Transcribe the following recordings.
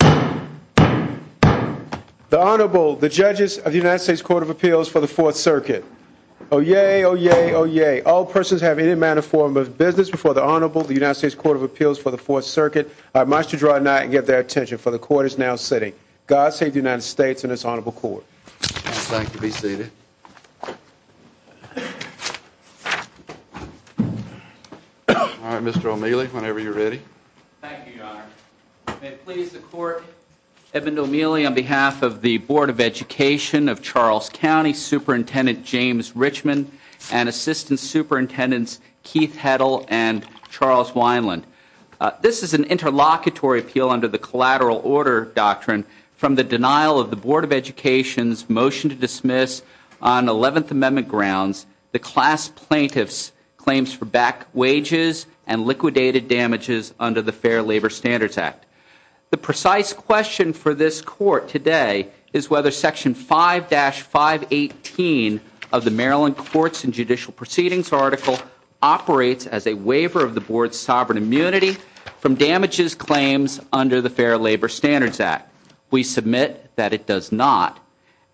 The Honorable, the Judges of the United States Court of Appeals for the Fourth Circuit. Oyez, oyez, oyez. All persons have any manner or form of business before the Honorable, the United States Court of Appeals for the Fourth Circuit. I must draw nigh and get their attention, for the Court is now sitting. God save the United States and this Honorable Court. I would like to be seated. All right, Mr. O'Meally, whenever you're ready. Thank you, Your Honor. May it please the Court, Edmund O'Meally, on behalf of the Board of Education of Charles County, Superintendent James Richmond, and Assistant Superintendents Keith Heddle and Charles Wineland. This is an interlocutory appeal under the Collateral Order Doctrine from the denial of the Board of Education's motion to dismiss on Eleventh Amendment grounds the class plaintiff's claims for back wages and liquidated damages under the Fair Labor Standards Act. The precise question for this Court today is whether Section 5-518 of the Maryland Courts and Judicial Proceedings Article operates as a waiver of the Board's sovereign immunity from damages claims under the Fair Labor Standards Act. We submit that it does not,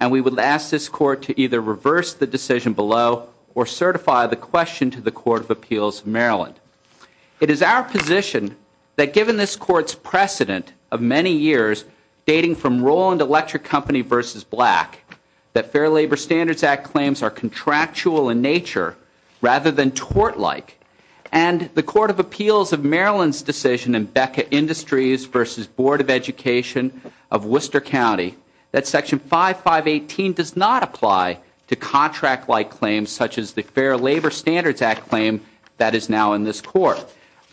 and we would ask this Court to either reverse the decision below or certify the question to the Court of Appeals of Maryland. It is our position that given this Court's precedent of many years dating from Roland Electric Company versus Black, that Fair Labor Standards Act claims are contractual in nature rather than tort-like, and the Court of Appeals of Maryland's decision in Becker Industries versus Board of Education of Worcester County that Section 5-518 does not apply to contract-like claims such as the Fair Labor Standards Act claim that is now in this Court.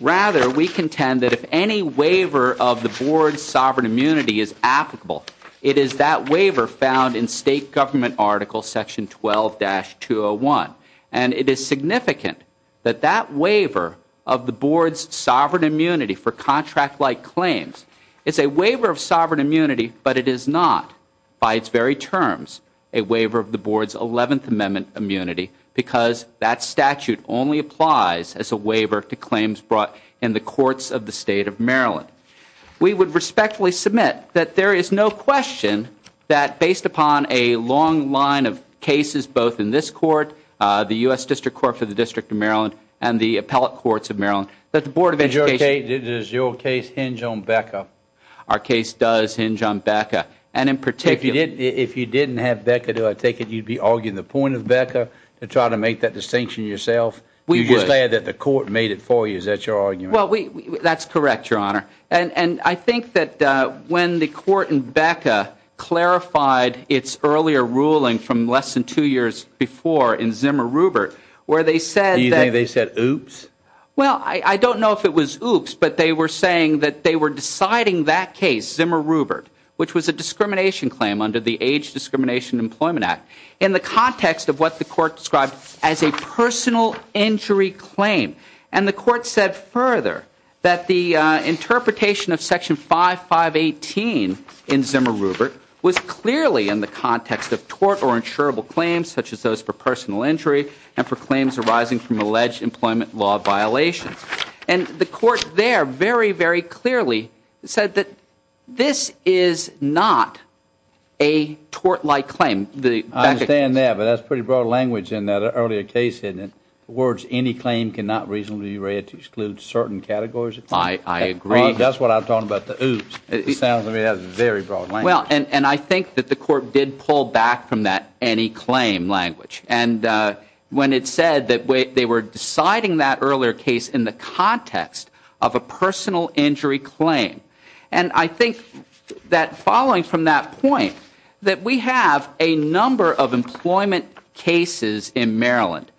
Rather, we contend that if any waiver of the Board's sovereign immunity is applicable, it is that waiver found in State Government Article Section 12-201, and it is significant that that waiver of the Board's sovereign immunity for contract-like claims is a waiver of sovereign immunity, but it is not, by its very terms, a waiver of the Board's Eleventh Amendment immunity because that statute only applies as a waiver to claims brought in the courts of the State of Maryland. We would respectfully submit that there is no question that based upon a long line of cases, both in this Court, the U.S. District Court for the District of Maryland, and the Appellate Courts of Maryland, that the Board of Education... Does your case hinge on Becker? Our case does hinge on Becker, and in particular... If you didn't have Becker, do I take it you'd be arguing the point of Becker to try to make that distinction yourself? We would. You just said that the Court made it for you. Is that your argument? Well, that's correct, Your Honor. And I think that when the Court in Becker clarified its earlier ruling from less than two years before in Zimmer-Rubert, where they said that... Do you think they said, oops? Well, I don't know if it was oops, but they were saying that they were deciding that case, Zimmer-Rubert, which was a discrimination claim under the Age Discrimination Employment Act, in the context of what the Court described as a personal injury claim. And the Court said further that the interpretation of Section 5518 in Zimmer-Rubert was clearly in the context of tort or insurable claims, such as those for personal injury, and for claims arising from alleged employment law violations. And the Court there very, very clearly said that this is not a tort-like claim. I understand that, but that's pretty broad language in that earlier case, isn't it? The words any claim cannot reasonably be read to exclude certain categories of claims. I agree. That's what I'm talking about, the oops. It sounds to me like that's very broad language. Well, and I think that the Court did pull back from that any claim language. And when it said that they were deciding that earlier case in the context of a personal injury claim, And I think that following from that point, that we have a number of employment cases in Maryland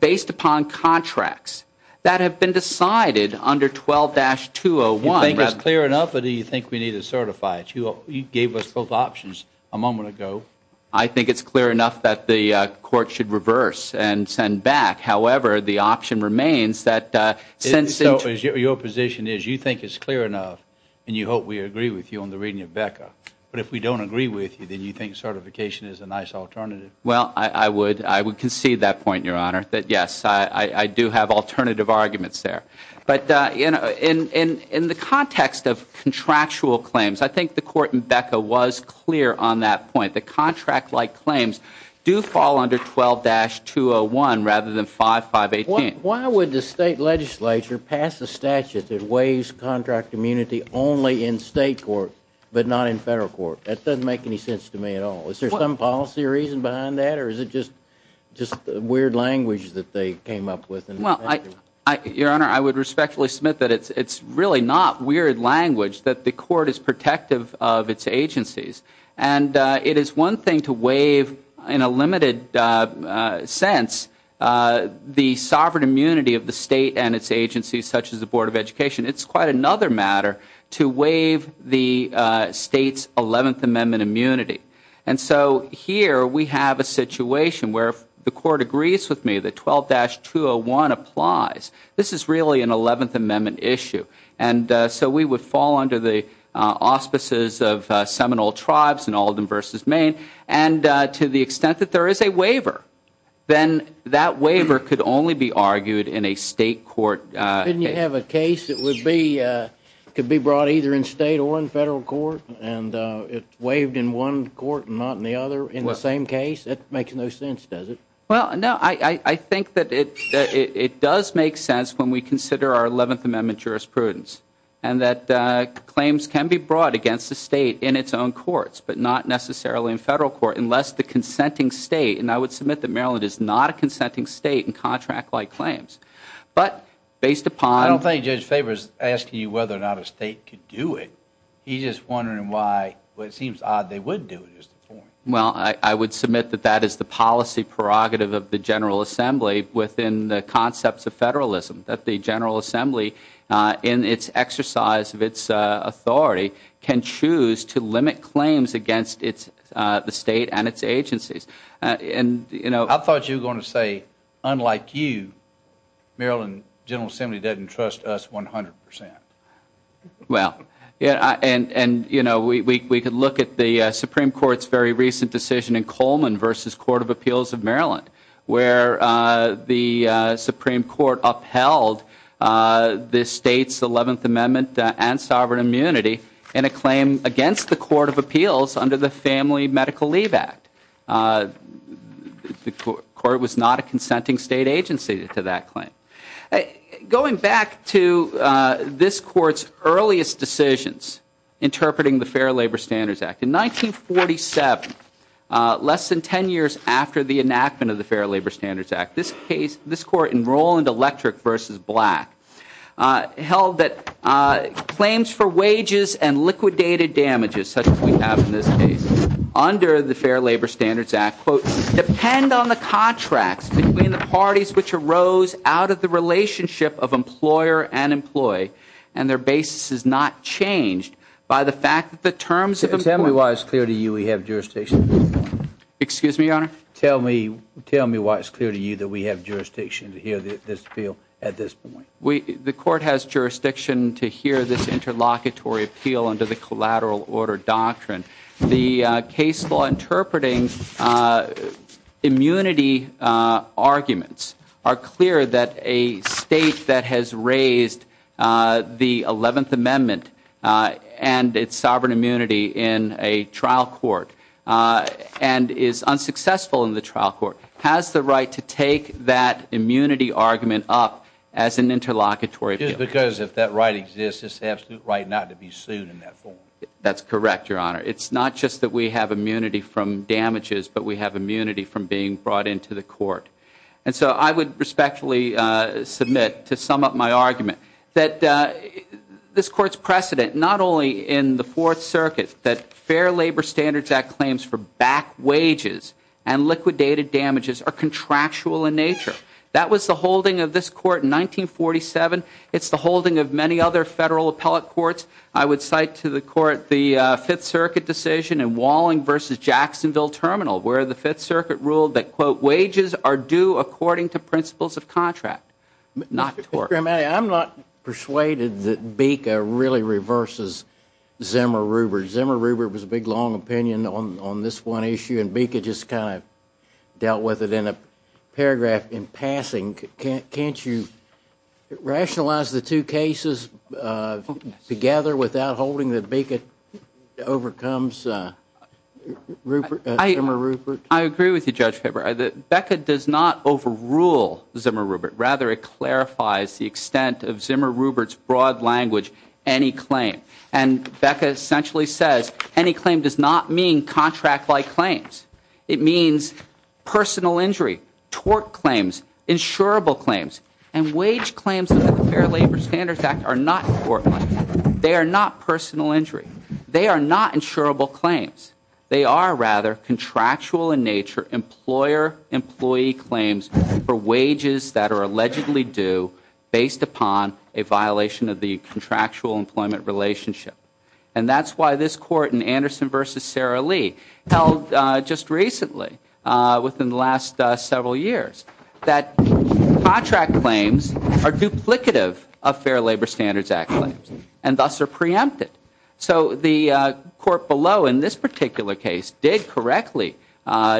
based upon contracts that have been decided under 12-201 rather than Do you think it's clear enough or do you think we need to certify it? You gave us both options a moment ago. I think it's clear enough that the Court should reverse and send back. However, the option remains that since Your position is you think it's clear enough and you hope we agree with you on the reading of BECA. But if we don't agree with you, then you think certification is a nice alternative. Well, I would concede that point, Your Honor, that yes, I do have alternative arguments there. But in the context of contractual claims, I think the Court in BECA was clear on that point. The contract-like claims do fall under 12-201 rather than 5518. Why would the state legislature pass a statute that waives contract immunity only in state court but not in federal court? That doesn't make any sense to me at all. Is there some policy reason behind that or is it just weird language that they came up with? Your Honor, I would respectfully submit that it's really not weird language that the Court is protective of its agencies. It is one thing to waive, in a limited sense, the sovereign immunity of the state and its agencies, such as the Board of Education. It's quite another matter to waive the state's 11th Amendment immunity. And so here we have a situation where if the Court agrees with me that 12-201 applies, this is really an 11th Amendment issue. And so we would fall under the auspices of Seminole tribes and Alden v. Maine. And to the extent that there is a waiver, then that waiver could only be argued in a state court case. Couldn't you have a case that could be brought either in state or in federal court and it's waived in one court and not in the other in the same case? That makes no sense, does it? Well, no. I think that it does make sense when we consider our 11th Amendment jurisprudence and that claims can be brought against the state in its own courts, but not necessarily in federal court unless the consenting state and I would submit that Maryland is not a consenting state in contract-like claims. But based upon... I don't think Judge Faber is asking you whether or not a state could do it. He's just wondering why it seems odd they wouldn't do it. Well, I would submit that that is the policy prerogative of the General Assembly within the concepts of federalism. That the General Assembly, in its exercise of its authority, can choose to limit claims against the state and its agencies. I thought you were going to say, unlike you, Maryland General Assembly doesn't trust us 100%. Well, we could look at the Supreme Court's very recent decision in Coleman v. Court of Appeals of Maryland where the Supreme Court upheld the state's 11th Amendment and sovereign immunity in a claim against the Court of Appeals under the Family Medical Leave Act. The court was not a consenting state agency to that claim. Going back to this court's earliest decisions interpreting the Fair Labor Standards Act, in 1947, less than 10 years after the enactment of the Fair Labor Standards Act, this court in Roland Electric v. Black held that claims for wages and liquidated damages, such as we have in this case, under the Fair Labor Standards Act, quote, depend on the contracts between the parties which arose out of the relationship of employer and employee and their basis is not changed by the fact that the terms of employment... Tell me why it's clear to you we have jurisdiction. Excuse me, Your Honor? Tell me why it's clear to you that we have jurisdiction to hear this appeal at this point. The court has jurisdiction to hear this interlocutory appeal under the collateral order doctrine. The case law interpreting immunity arguments are clear that a state that has raised the 11th Amendment and its sovereign immunity in a trial court and is unsuccessful in the trial court has the right to take that immunity argument up as an interlocutory appeal. Just because if that right exists, it's the absolute right not to be sued in that form. That's correct, Your Honor. It's not just that we have immunity from damages, but we have immunity from being brought into the court. And so I would respectfully submit to sum up my argument that this court's precedent, not only in the Fourth Circuit that Fair Labor Standards Act claims for back wages and liquidated damages are contractual in nature. That was the holding of this court in 1947. It's the holding of many other federal appellate courts. I would cite to the court the Fifth Circuit decision in Walling v. Jacksonville Terminal where the Fifth Circuit ruled that, quote, wages are due according to principles of contract, not tort. Mr. Grimani, I'm not persuaded that BICA really reverses Zimmer-Rubert. Zimmer-Rubert was a big, long opinion on this one issue, and BICA just kind of dealt with it in a paragraph in passing. Can't you rationalize the two cases together without holding that BICA overcomes Zimmer-Rubert? I agree with you, Judge Faber. BECA does not overrule Zimmer-Rubert. Rather, it clarifies the extent of Zimmer-Rubert's broad language, any claim. And BECA essentially says any claim does not mean contract-like claims. It means personal injury, tort claims, insurable claims, and wage claims under the Fair Labor Standards Act are not tort claims. They are not personal injury. They are not insurable claims. They are, rather, contractual in nature, employer-employee claims for wages that are allegedly due based upon a violation of the contractual employment relationship. And that's why this court in Anderson v. Sara Lee held just recently, within the last several years, that contract claims are duplicative of Fair Labor Standards Act claims and thus are preempted. So the court below in this particular case did correctly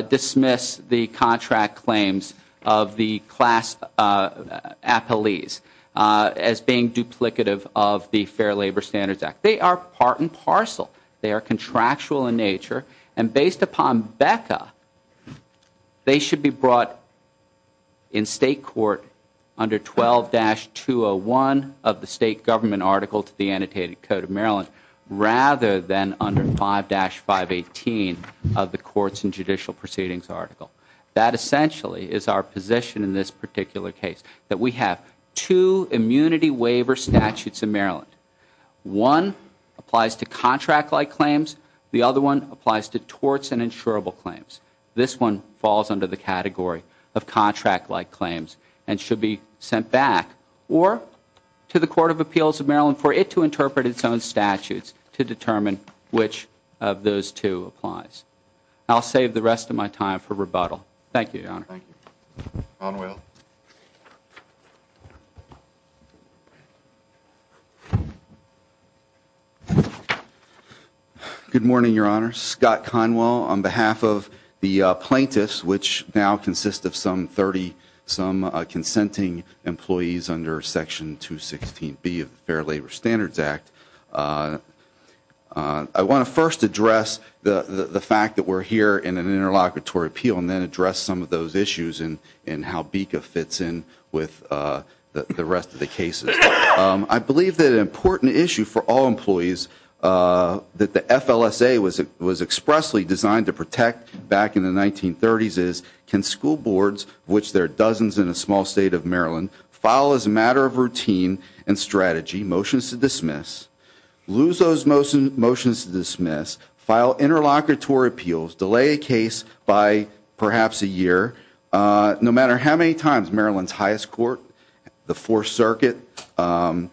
dismiss the contract claims of the class appellees as being duplicative of the Fair Labor Standards Act. They are part and parcel. They are contractual in nature. And based upon BECA, they should be brought in state court under 12-201 of the state government article to the Annotated Code of Maryland rather than under 5-518 of the Courts and Judicial Proceedings article. That essentially is our position in this particular case, that we have two immunity waiver statutes in Maryland. One applies to contract-like claims. The other one applies to torts and insurable claims. This one falls under the category of contract-like claims and should be sent back or to the Court of Appeals of Maryland for it to interpret its own statutes to determine which of those two applies. I'll save the rest of my time for rebuttal. Thank you, Your Honor. Thank you. Conwell. Good morning, Your Honor. Scott Conwell on behalf of the plaintiffs, which now consist of some 30-some consenting employees under Section 216B of the Fair Labor Standards Act. I want to first address the fact that we're here in an interlocutory appeal and then address some of those issues and how BICA fits in with the rest of the cases. I believe that an important issue for all employees that the FLSA was expressly designed to protect back in the 1930s is, can school boards, of which there are dozens in a small state of Maryland, file as a matter of routine and strategy motions to dismiss, lose those motions to dismiss, file interlocutory appeals, delay a case by perhaps a year, no matter how many times Maryland's highest court, the Fourth Circuit, and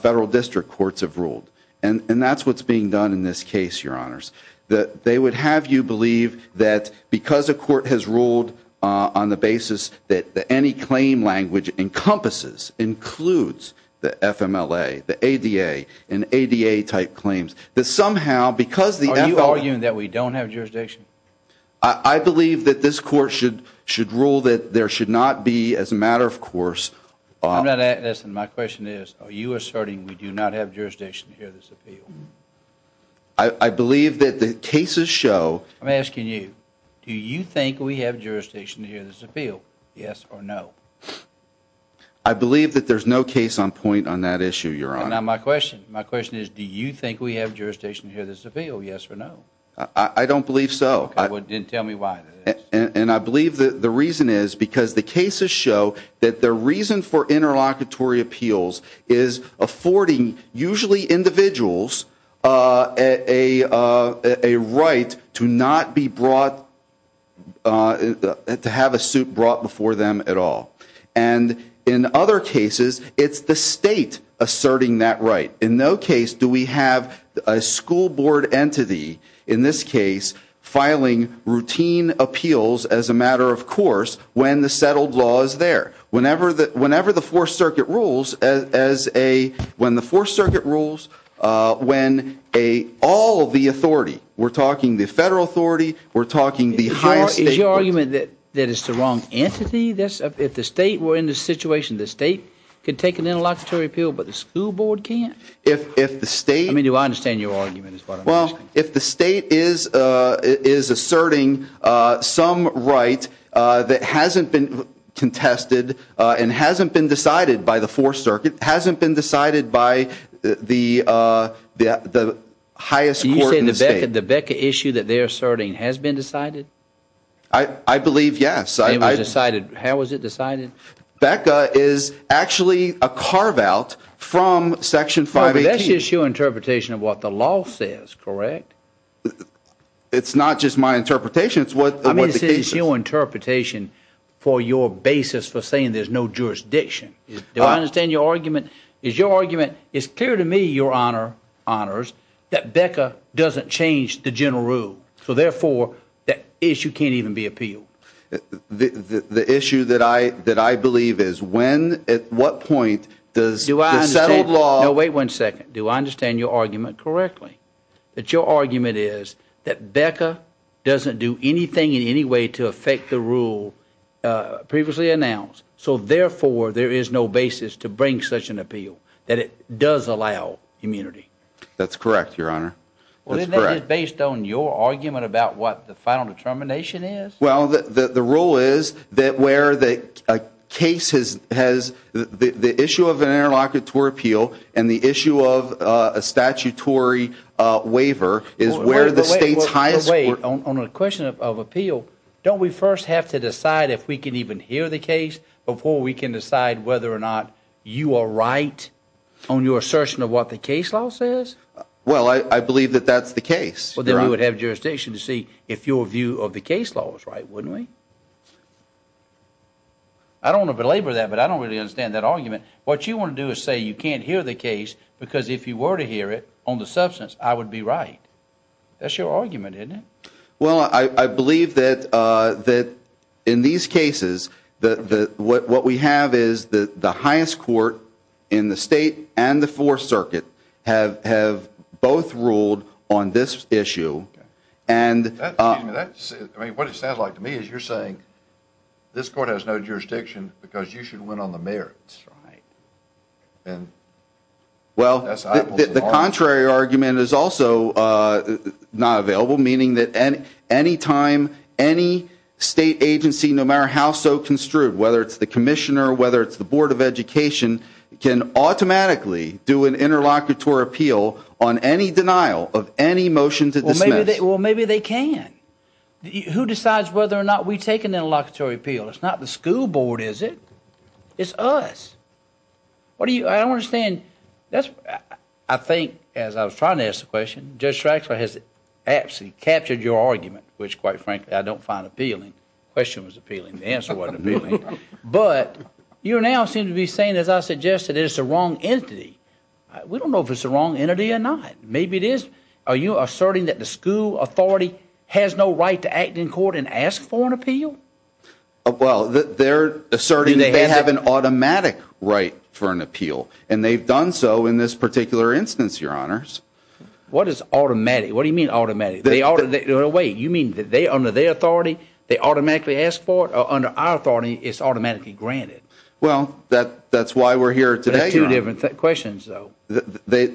federal district courts have ruled. And that's what's being done in this case, Your Honors. They would have you believe that because a court has ruled on the basis that any claim language encompasses, includes the FMLA, the ADA, and ADA-type claims, that somehow, because the FLSA- Are you arguing that we don't have jurisdiction? I believe that this court should rule that there should not be, as a matter of course- I'm not asking, my question is, are you asserting we do not have jurisdiction to hear this appeal? I believe that the cases show- I'm asking you, do you think we have jurisdiction to hear this appeal, yes or no? I believe that there's no case on point on that issue, Your Honor. My question is, do you think we have jurisdiction to hear this appeal, yes or no? I don't believe so. Then tell me why. And I believe that the reason is because the cases show that the reason for interlocutory appeals is affording, usually individuals, a right to not be brought- to have a suit brought before them at all. And in other cases, it's the state asserting that right. In no case do we have a school board entity, in this case, filing routine appeals as a matter of course, when the settled law is there. Whenever the Fourth Circuit rules, when all of the authority, we're talking the federal authority, we're talking the highest- Is your argument that it's the wrong entity? If the state were in the situation, the state could take an interlocutory appeal, but the school board can't? If the state- Well, if the state is asserting some right that hasn't been contested and hasn't been decided by the Fourth Circuit, hasn't been decided by the highest court in the state- You said the BECA issue that they're asserting has been decided? I believe, yes. It was decided. How was it decided? BECA is actually a carve-out from Section 518. That's your interpretation of what the law says, correct? It's not just my interpretation. It's what the case is. I mean, this is your interpretation for your basis for saying there's no jurisdiction. Do I understand your argument? Is your argument, it's clear to me, Your Honor, Honors, that BECA doesn't change the general rule. So, therefore, that issue can't even be appealed. The issue that I believe is when, at what point does the settled law- No, wait one second. Do I understand your argument correctly? That your argument is that BECA doesn't do anything in any way to affect the rule previously announced. So, therefore, there is no basis to bring such an appeal, that it does allow immunity. That's correct, Your Honor. Well, isn't that just based on your argument about what the final determination is? Well, the rule is that where the case has the issue of an interlocutor appeal and the issue of a statutory waiver is where the state's highest court- On a question of appeal, don't we first have to decide if we can even hear the case before we can decide whether or not you are right on your assertion of what the case law says? Well, I believe that that's the case, Your Honor. We would have jurisdiction to see if your view of the case law was right, wouldn't we? I don't want to belabor that, but I don't really understand that argument. What you want to do is say you can't hear the case because if you were to hear it on the substance, I would be right. That's your argument, isn't it? Well, I believe that in these cases, what we have is the highest court in the state and the Fourth Circuit have both ruled on this issue. What it sounds like to me is you're saying this court has no jurisdiction because you should win on the merits. Well, the contrary argument is also not available, meaning that any time any state agency, no matter how so construed, whether it's the commissioner, whether it's the Board of Education, can automatically do an interlocutory appeal on any denial of any motion to dismiss. Well, maybe they can. Who decides whether or not we take an interlocutory appeal? Well, it's not the school board, is it? It's us. I don't understand. I think, as I was trying to ask the question, Judge Traxler has absolutely captured your argument, which, quite frankly, I don't find appealing. The question was appealing. The answer wasn't appealing. But you now seem to be saying, as I suggested, it's the wrong entity. We don't know if it's the wrong entity or not. Maybe it is. Are you asserting that the school authority has no right to act in court and ask for an appeal? Well, they're asserting that they have an automatic right for an appeal, and they've done so in this particular instance, Your Honors. What is automatic? What do you mean automatic? Wait. You mean under their authority, they automatically ask for it, or under our authority, it's automatically granted? Well, that's why we're here today, Your Honor. Two different questions, though. The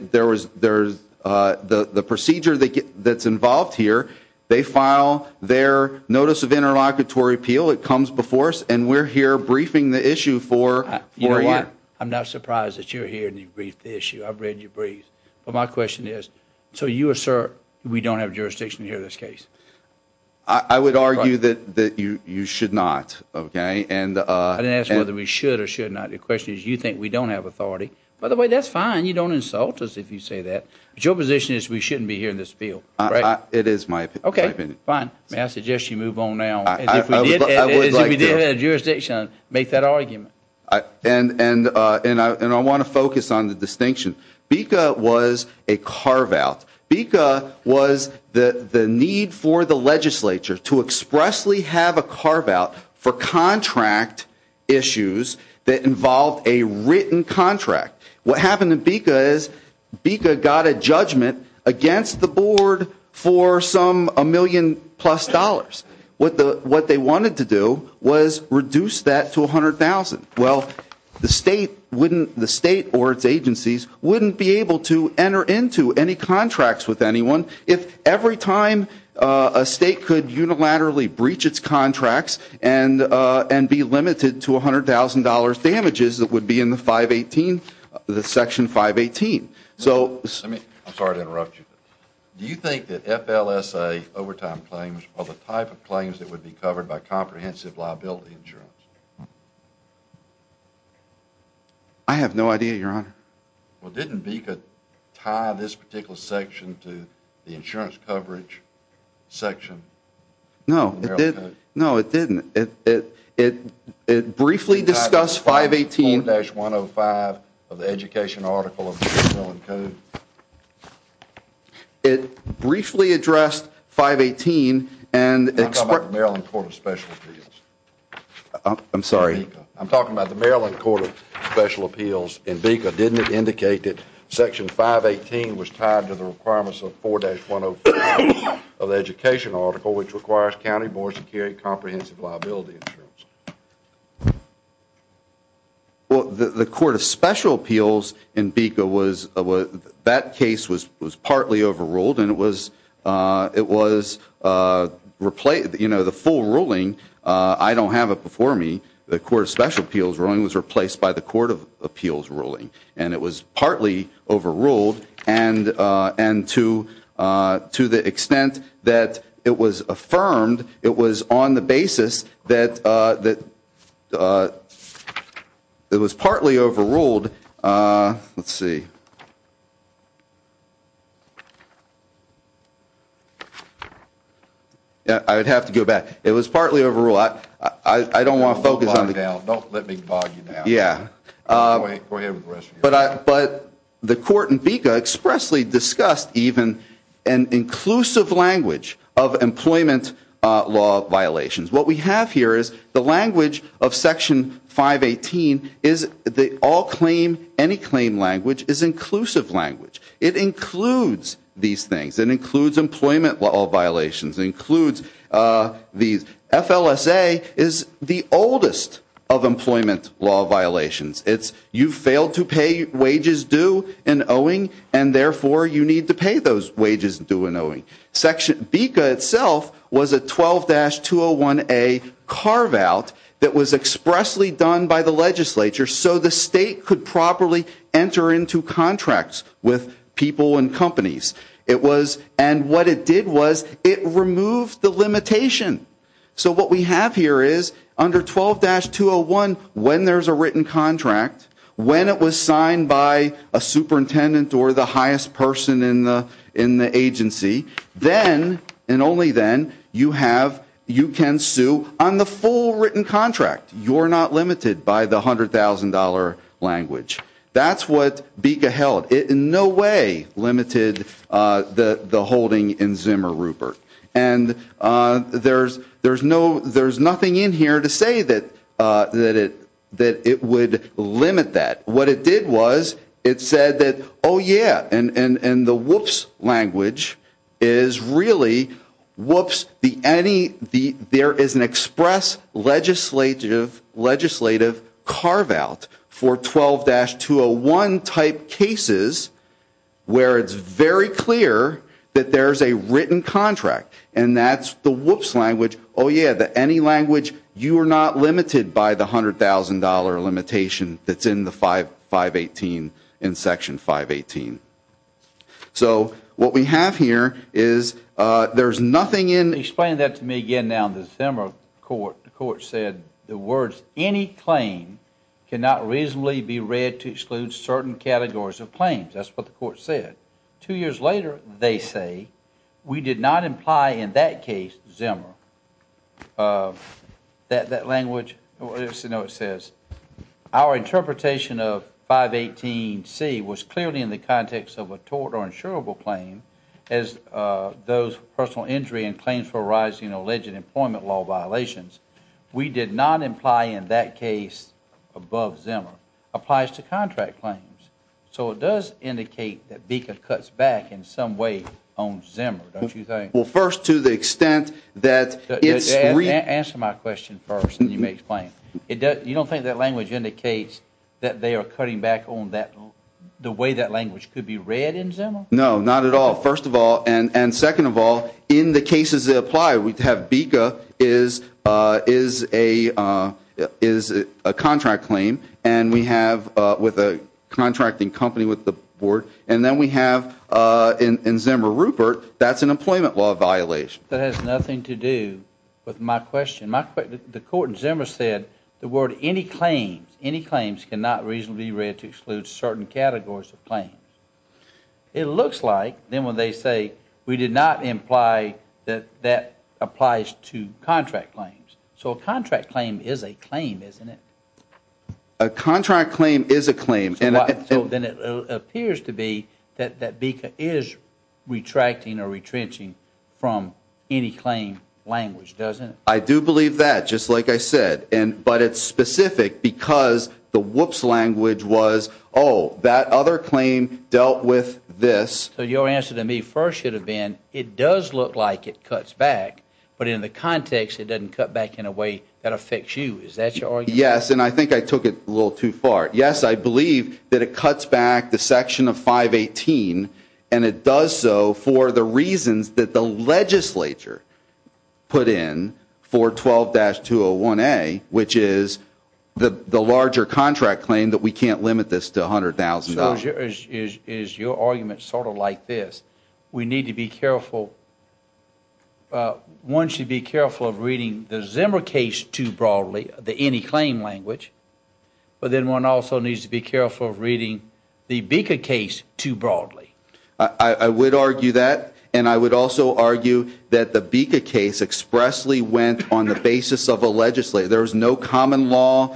procedure that's involved here, they file their notice of interlocutory appeal. It comes before us, and we're here briefing the issue for a year. You know what? I'm not surprised that you're here and you've briefed the issue. I've read your briefs. But my question is, so you assert we don't have jurisdiction here in this case? I would argue that you should not, okay? I didn't ask whether we should or should not. The question is, you think we don't have authority. By the way, that's fine. You don't insult us if you say that. But your position is we shouldn't be here in this field, right? It is my opinion. Okay, fine. May I suggest you move on now? I would like to. If we did have jurisdiction, make that argument. And I want to focus on the distinction. BICA was a carve-out. BICA was the need for the legislature to expressly have a carve-out for contract issues that involved a written contract. What happened in BICA is BICA got a judgment against the board for some a million-plus dollars. What they wanted to do was reduce that to $100,000. Well, the state or its agencies wouldn't be able to enter into any contracts with anyone if every time a state could unilaterally breach its contracts and be limited to $100,000 damages that would be in the Section 518. I'm sorry to interrupt you. Do you think that FLSA overtime claims are the type of claims that would be covered by comprehensive liability insurance? I have no idea, Your Honor. Well, didn't BICA tie this particular section to the insurance coverage section? No, it didn't. No, it didn't. It briefly discussed 518. 518-105 of the education article of the Maryland Code. It briefly addressed 518 and expressed. I'm talking about the Maryland Court of Special Appeals. I'm sorry. I'm talking about the Maryland Court of Special Appeals. And BICA, didn't it indicate that Section 518 was tied to the requirements of 4-105 of the education article which requires county boards to carry comprehensive liability insurance? Well, the Court of Special Appeals in BICA was, that case was partly overruled and it was the full ruling. I don't have it before me. The Court of Special Appeals ruling was replaced by the Court of Appeals ruling. And it was partly overruled and to the extent that it was affirmed, it was on the basis that it was partly overruled. Let's see. I would have to go back. It was partly overruled. I don't want to focus on. Don't let me bog you down. Yeah. Go ahead with the rest of your question. But the Court in BICA expressly discussed even an inclusive language of employment law violations. What we have here is the language of Section 518 is the all claim, any claim language is inclusive language. It includes these things. It includes employment law violations. It includes these. FLSA is the oldest of employment law violations. It's you failed to pay wages due in owing and therefore you need to pay those wages due in owing. BICA itself was a 12-201A carve out that was expressly done by the legislature so the state could properly enter into contracts with people and companies. And what it did was it removed the limitation. So what we have here is under 12-201 when there's a written contract, when it was signed by a superintendent or the highest person in the agency, then and only then you can sue on the full written contract. You're not limited by the $100,000 language. That's what BICA held. It in no way limited the holding in Zimmer Rupert. And there's nothing in here to say that it would limit that. What it did was it said that, oh, yeah, and the whoops language is really whoops. There is an express legislative carve out for 12-201 type cases where it's very clear that there's a written contract. And that's the whoops language. Oh, yeah, the any language, you are not limited by the $100,000 limitation that's in the 518 in Section 518. So what we have here is there's nothing in. Explain that to me again now. The Zimmer court said the words any claim cannot reasonably be read to exclude certain categories of claims. That's what the court said. Two years later they say we did not imply in that case Zimmer. That that language, you know, it says our interpretation of 518C was clearly in the context of a tort or insurable claim as those personal injury and claims for rising alleged employment law violations. We did not imply in that case above Zimmer applies to contract claims. So it does indicate that BICA cuts back in some way on Zimmer, don't you think? Well, first, to the extent that it's. Answer my question first and you may explain it. You don't think that language indicates that they are cutting back on that the way that language could be read in Zimmer? No, not at all. First of all, and second of all, in the cases that apply, we have BICA is a contract claim and we have with a contracting company with the board. And then we have in Zimmer Rupert, that's an employment law violation. That has nothing to do with my question. The court in Zimmer said the word any claims, any claims cannot reasonably be read to exclude certain categories of claims. It looks like then when they say we did not imply that that applies to contract claims. So a contract claim is a claim, isn't it? A contract claim is a claim. So then it appears to be that BICA is retracting or retrenching from any claim language, doesn't it? I do believe that, just like I said. But it's specific because the whoops language was, oh, that other claim dealt with this. So your answer to me first should have been it does look like it cuts back, but in the context it doesn't cut back in a way that affects you. Is that your argument? Yes, and I think I took it a little too far. Yes, I believe that it cuts back the section of 518, and it does so for the reasons that the legislature put in for 12-201A, which is the larger contract claim that we can't limit this to $100,000. So is your argument sort of like this? We need to be careful. One should be careful of reading the Zimmer case too broadly, the any claim language. But then one also needs to be careful of reading the BICA case too broadly. I would argue that, and I would also argue that the BICA case expressly went on the basis of a legislature. There was no common law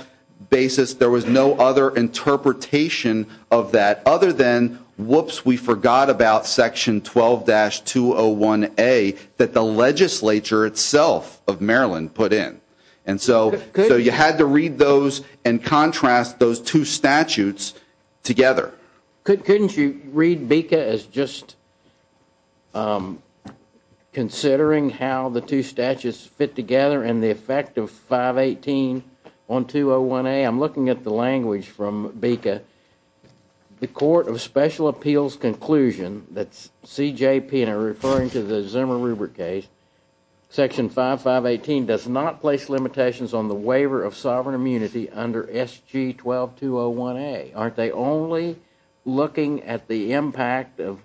basis. There was no other interpretation of that other than, whoops, we forgot about section 12-201A that the legislature itself of Maryland put in. And so you had to read those and contrast those two statutes together. Couldn't you read BICA as just considering how the two statutes fit together and the effect of 518 on 201A? I'm looking at the language from BICA. The court of special appeals conclusion, that's CJP, and they're referring to the Zimmer-Rubert case, section 5518 does not place limitations on the waiver of sovereign immunity under SG-12-201A. Aren't they only looking at the impact of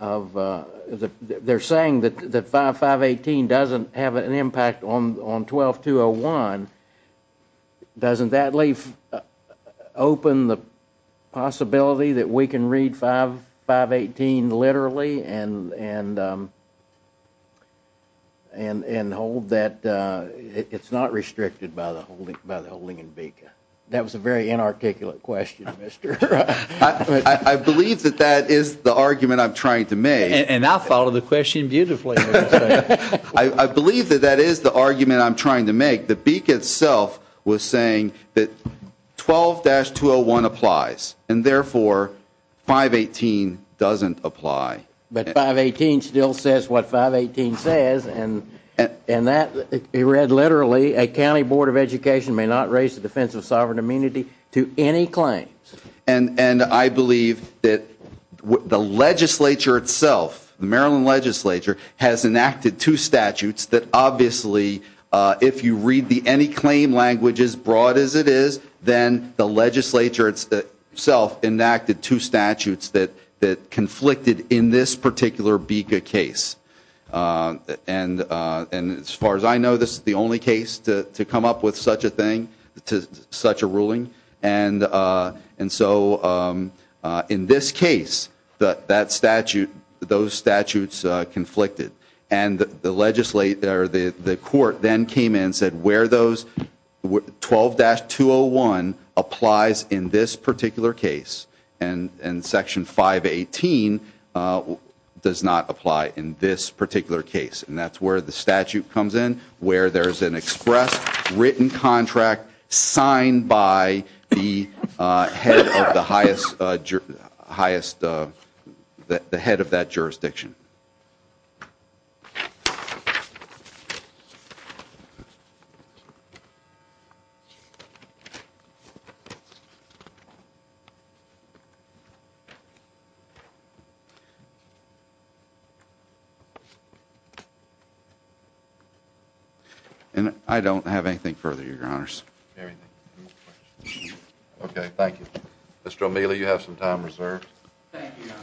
the, they're saying that 5518 doesn't have an impact on 12-201. Doesn't that leave open the possibility that we can read 518 literally and hold that it's not restricted by the holding in BICA? That was a very inarticulate question, Mr. I believe that that is the argument I'm trying to make. And I follow the question beautifully. I believe that that is the argument I'm trying to make. The BICA itself was saying that 12-201 applies, and therefore 518 doesn't apply. But 518 still says what 518 says, and that, it read literally, a county board of education may not raise the defense of sovereign immunity to any claims. And I believe that the legislature itself, the Maryland legislature, has enacted two statutes that obviously if you read any claim language as broad as it is, then the legislature itself enacted two statutes that conflicted in this particular BICA case. And as far as I know, this is the only case to come up with such a thing, such a ruling. And so in this case, those statutes conflicted. And the court then came in and said 12-201 applies in this particular case, and Section 518 does not apply in this particular case. And that's where the statute comes in, where there's an express written contract signed by the head of that jurisdiction. And I don't have anything further, Your Honors. Okay, thank you. Mr. O'Mealy, you have some time reserved. Thank you, Your Honor.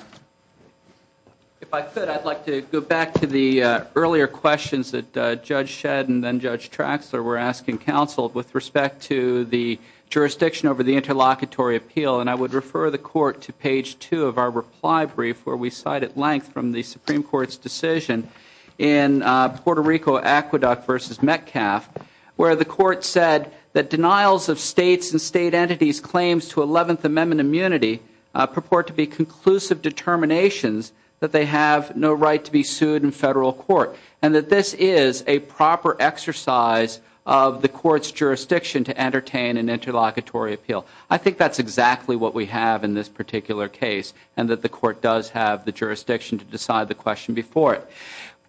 If I could, I'd like to go back to the earlier questions that Judge Shedd and then Judge Traxler were asking counsel with respect to the jurisdiction over the interlocutory appeal, and I would refer the court to page 2 of our reply brief where we cite at length from the Supreme Court's decision in Puerto Rico, Aqueduct v. Metcalf, where the court said that denials of states and state entities' claims to Eleventh Amendment immunity purport to be conclusive determinations that they have no right to be sued in federal court, and that this is a proper exercise of the court's jurisdiction to entertain an interlocutory appeal. I think that's exactly what we have in this particular case, and that the court does have the jurisdiction to decide the question before it.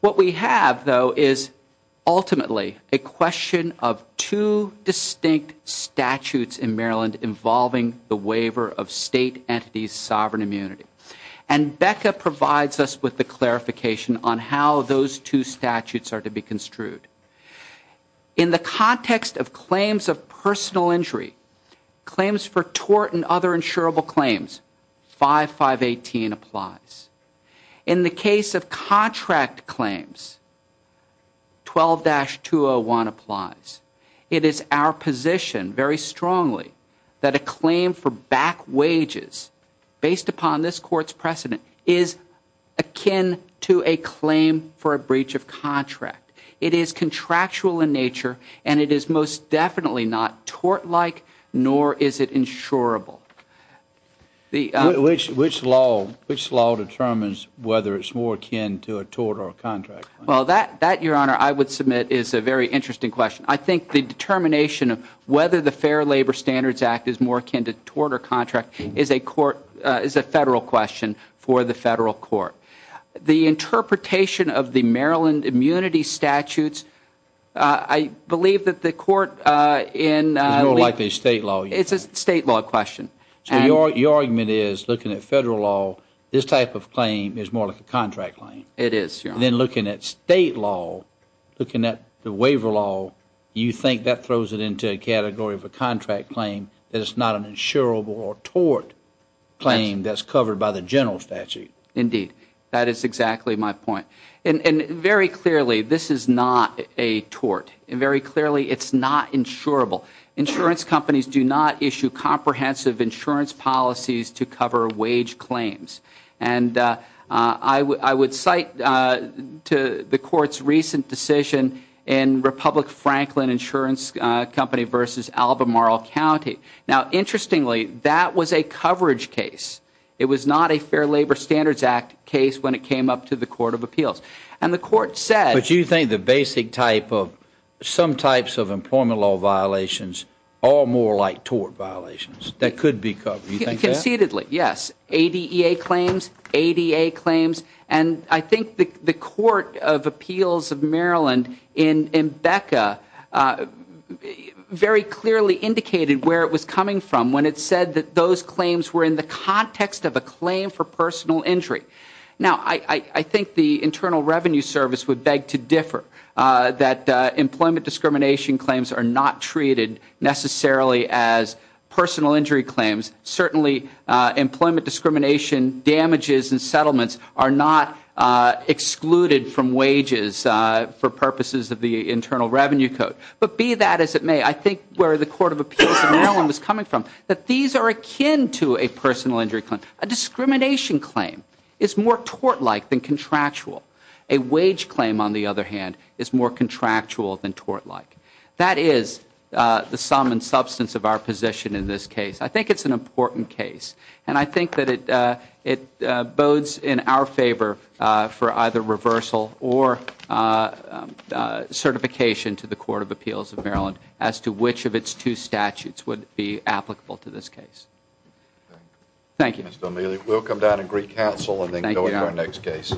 What we have, though, is ultimately a question of two distinct statutes in Maryland involving the waiver of state entities' sovereign immunity, and Becca provides us with the clarification on how those two statutes are to be construed. In the context of claims of personal injury, claims for tort and other insurable claims, 5518 applies. In the case of contract claims, 12-201 applies. It is our position very strongly that a claim for back wages based upon this court's precedent is akin to a claim for a breach of contract. It is contractual in nature, and it is most definitely not tort-like, nor is it insurable. Which law determines whether it's more akin to a tort or a contract? Well, that, Your Honor, I would submit is a very interesting question. I think the determination of whether the Fair Labor Standards Act is more akin to tort or contract is a federal question for the federal court. The interpretation of the Maryland immunity statutes, I believe that the court in It's more likely state law. It's a state law question. So your argument is, looking at federal law, this type of claim is more like a contract claim. It is, Your Honor. Then looking at state law, looking at the waiver law, you think that throws it into a category of a contract claim that it's not an insurable or tort claim that's covered by the general statute. Indeed. That is exactly my point. And very clearly, this is not a tort. And very clearly, it's not insurable. Insurance companies do not issue comprehensive insurance policies to cover wage claims. And I would cite to the court's recent decision in Republic Franklin Insurance Company versus Albemarle County. Now, interestingly, that was a coverage case. It was not a Fair Labor Standards Act case when it came up to the Court of Appeals. And the court said. But you think the basic type of some types of employment law violations are more like tort violations that could be covered. Do you think that? Concededly, yes. ADEA claims, ADA claims. And I think the Court of Appeals of Maryland in BECA very clearly indicated where it was coming from when it said that those claims were in the context of a claim for personal injury. Now, I think the Internal Revenue Service would beg to differ that employment discrimination claims are not treated necessarily as personal injury claims. Certainly employment discrimination damages and settlements are not excluded from wages for purposes of the Internal Revenue Code. But be that as it may, I think where the Court of Appeals of Maryland was coming from, that these are akin to a personal injury claim. A discrimination claim is more tort-like than contractual. A wage claim, on the other hand, is more contractual than tort-like. That is the sum and substance of our position in this case. I think it's an important case. And I think that it bodes in our favor for either reversal or certification to the Court of Appeals of Maryland as to which of its two statutes would be applicable to this case. Thank you. Thank you, Mr. O'Meally. We'll come down to Greek Council and then go into our next case.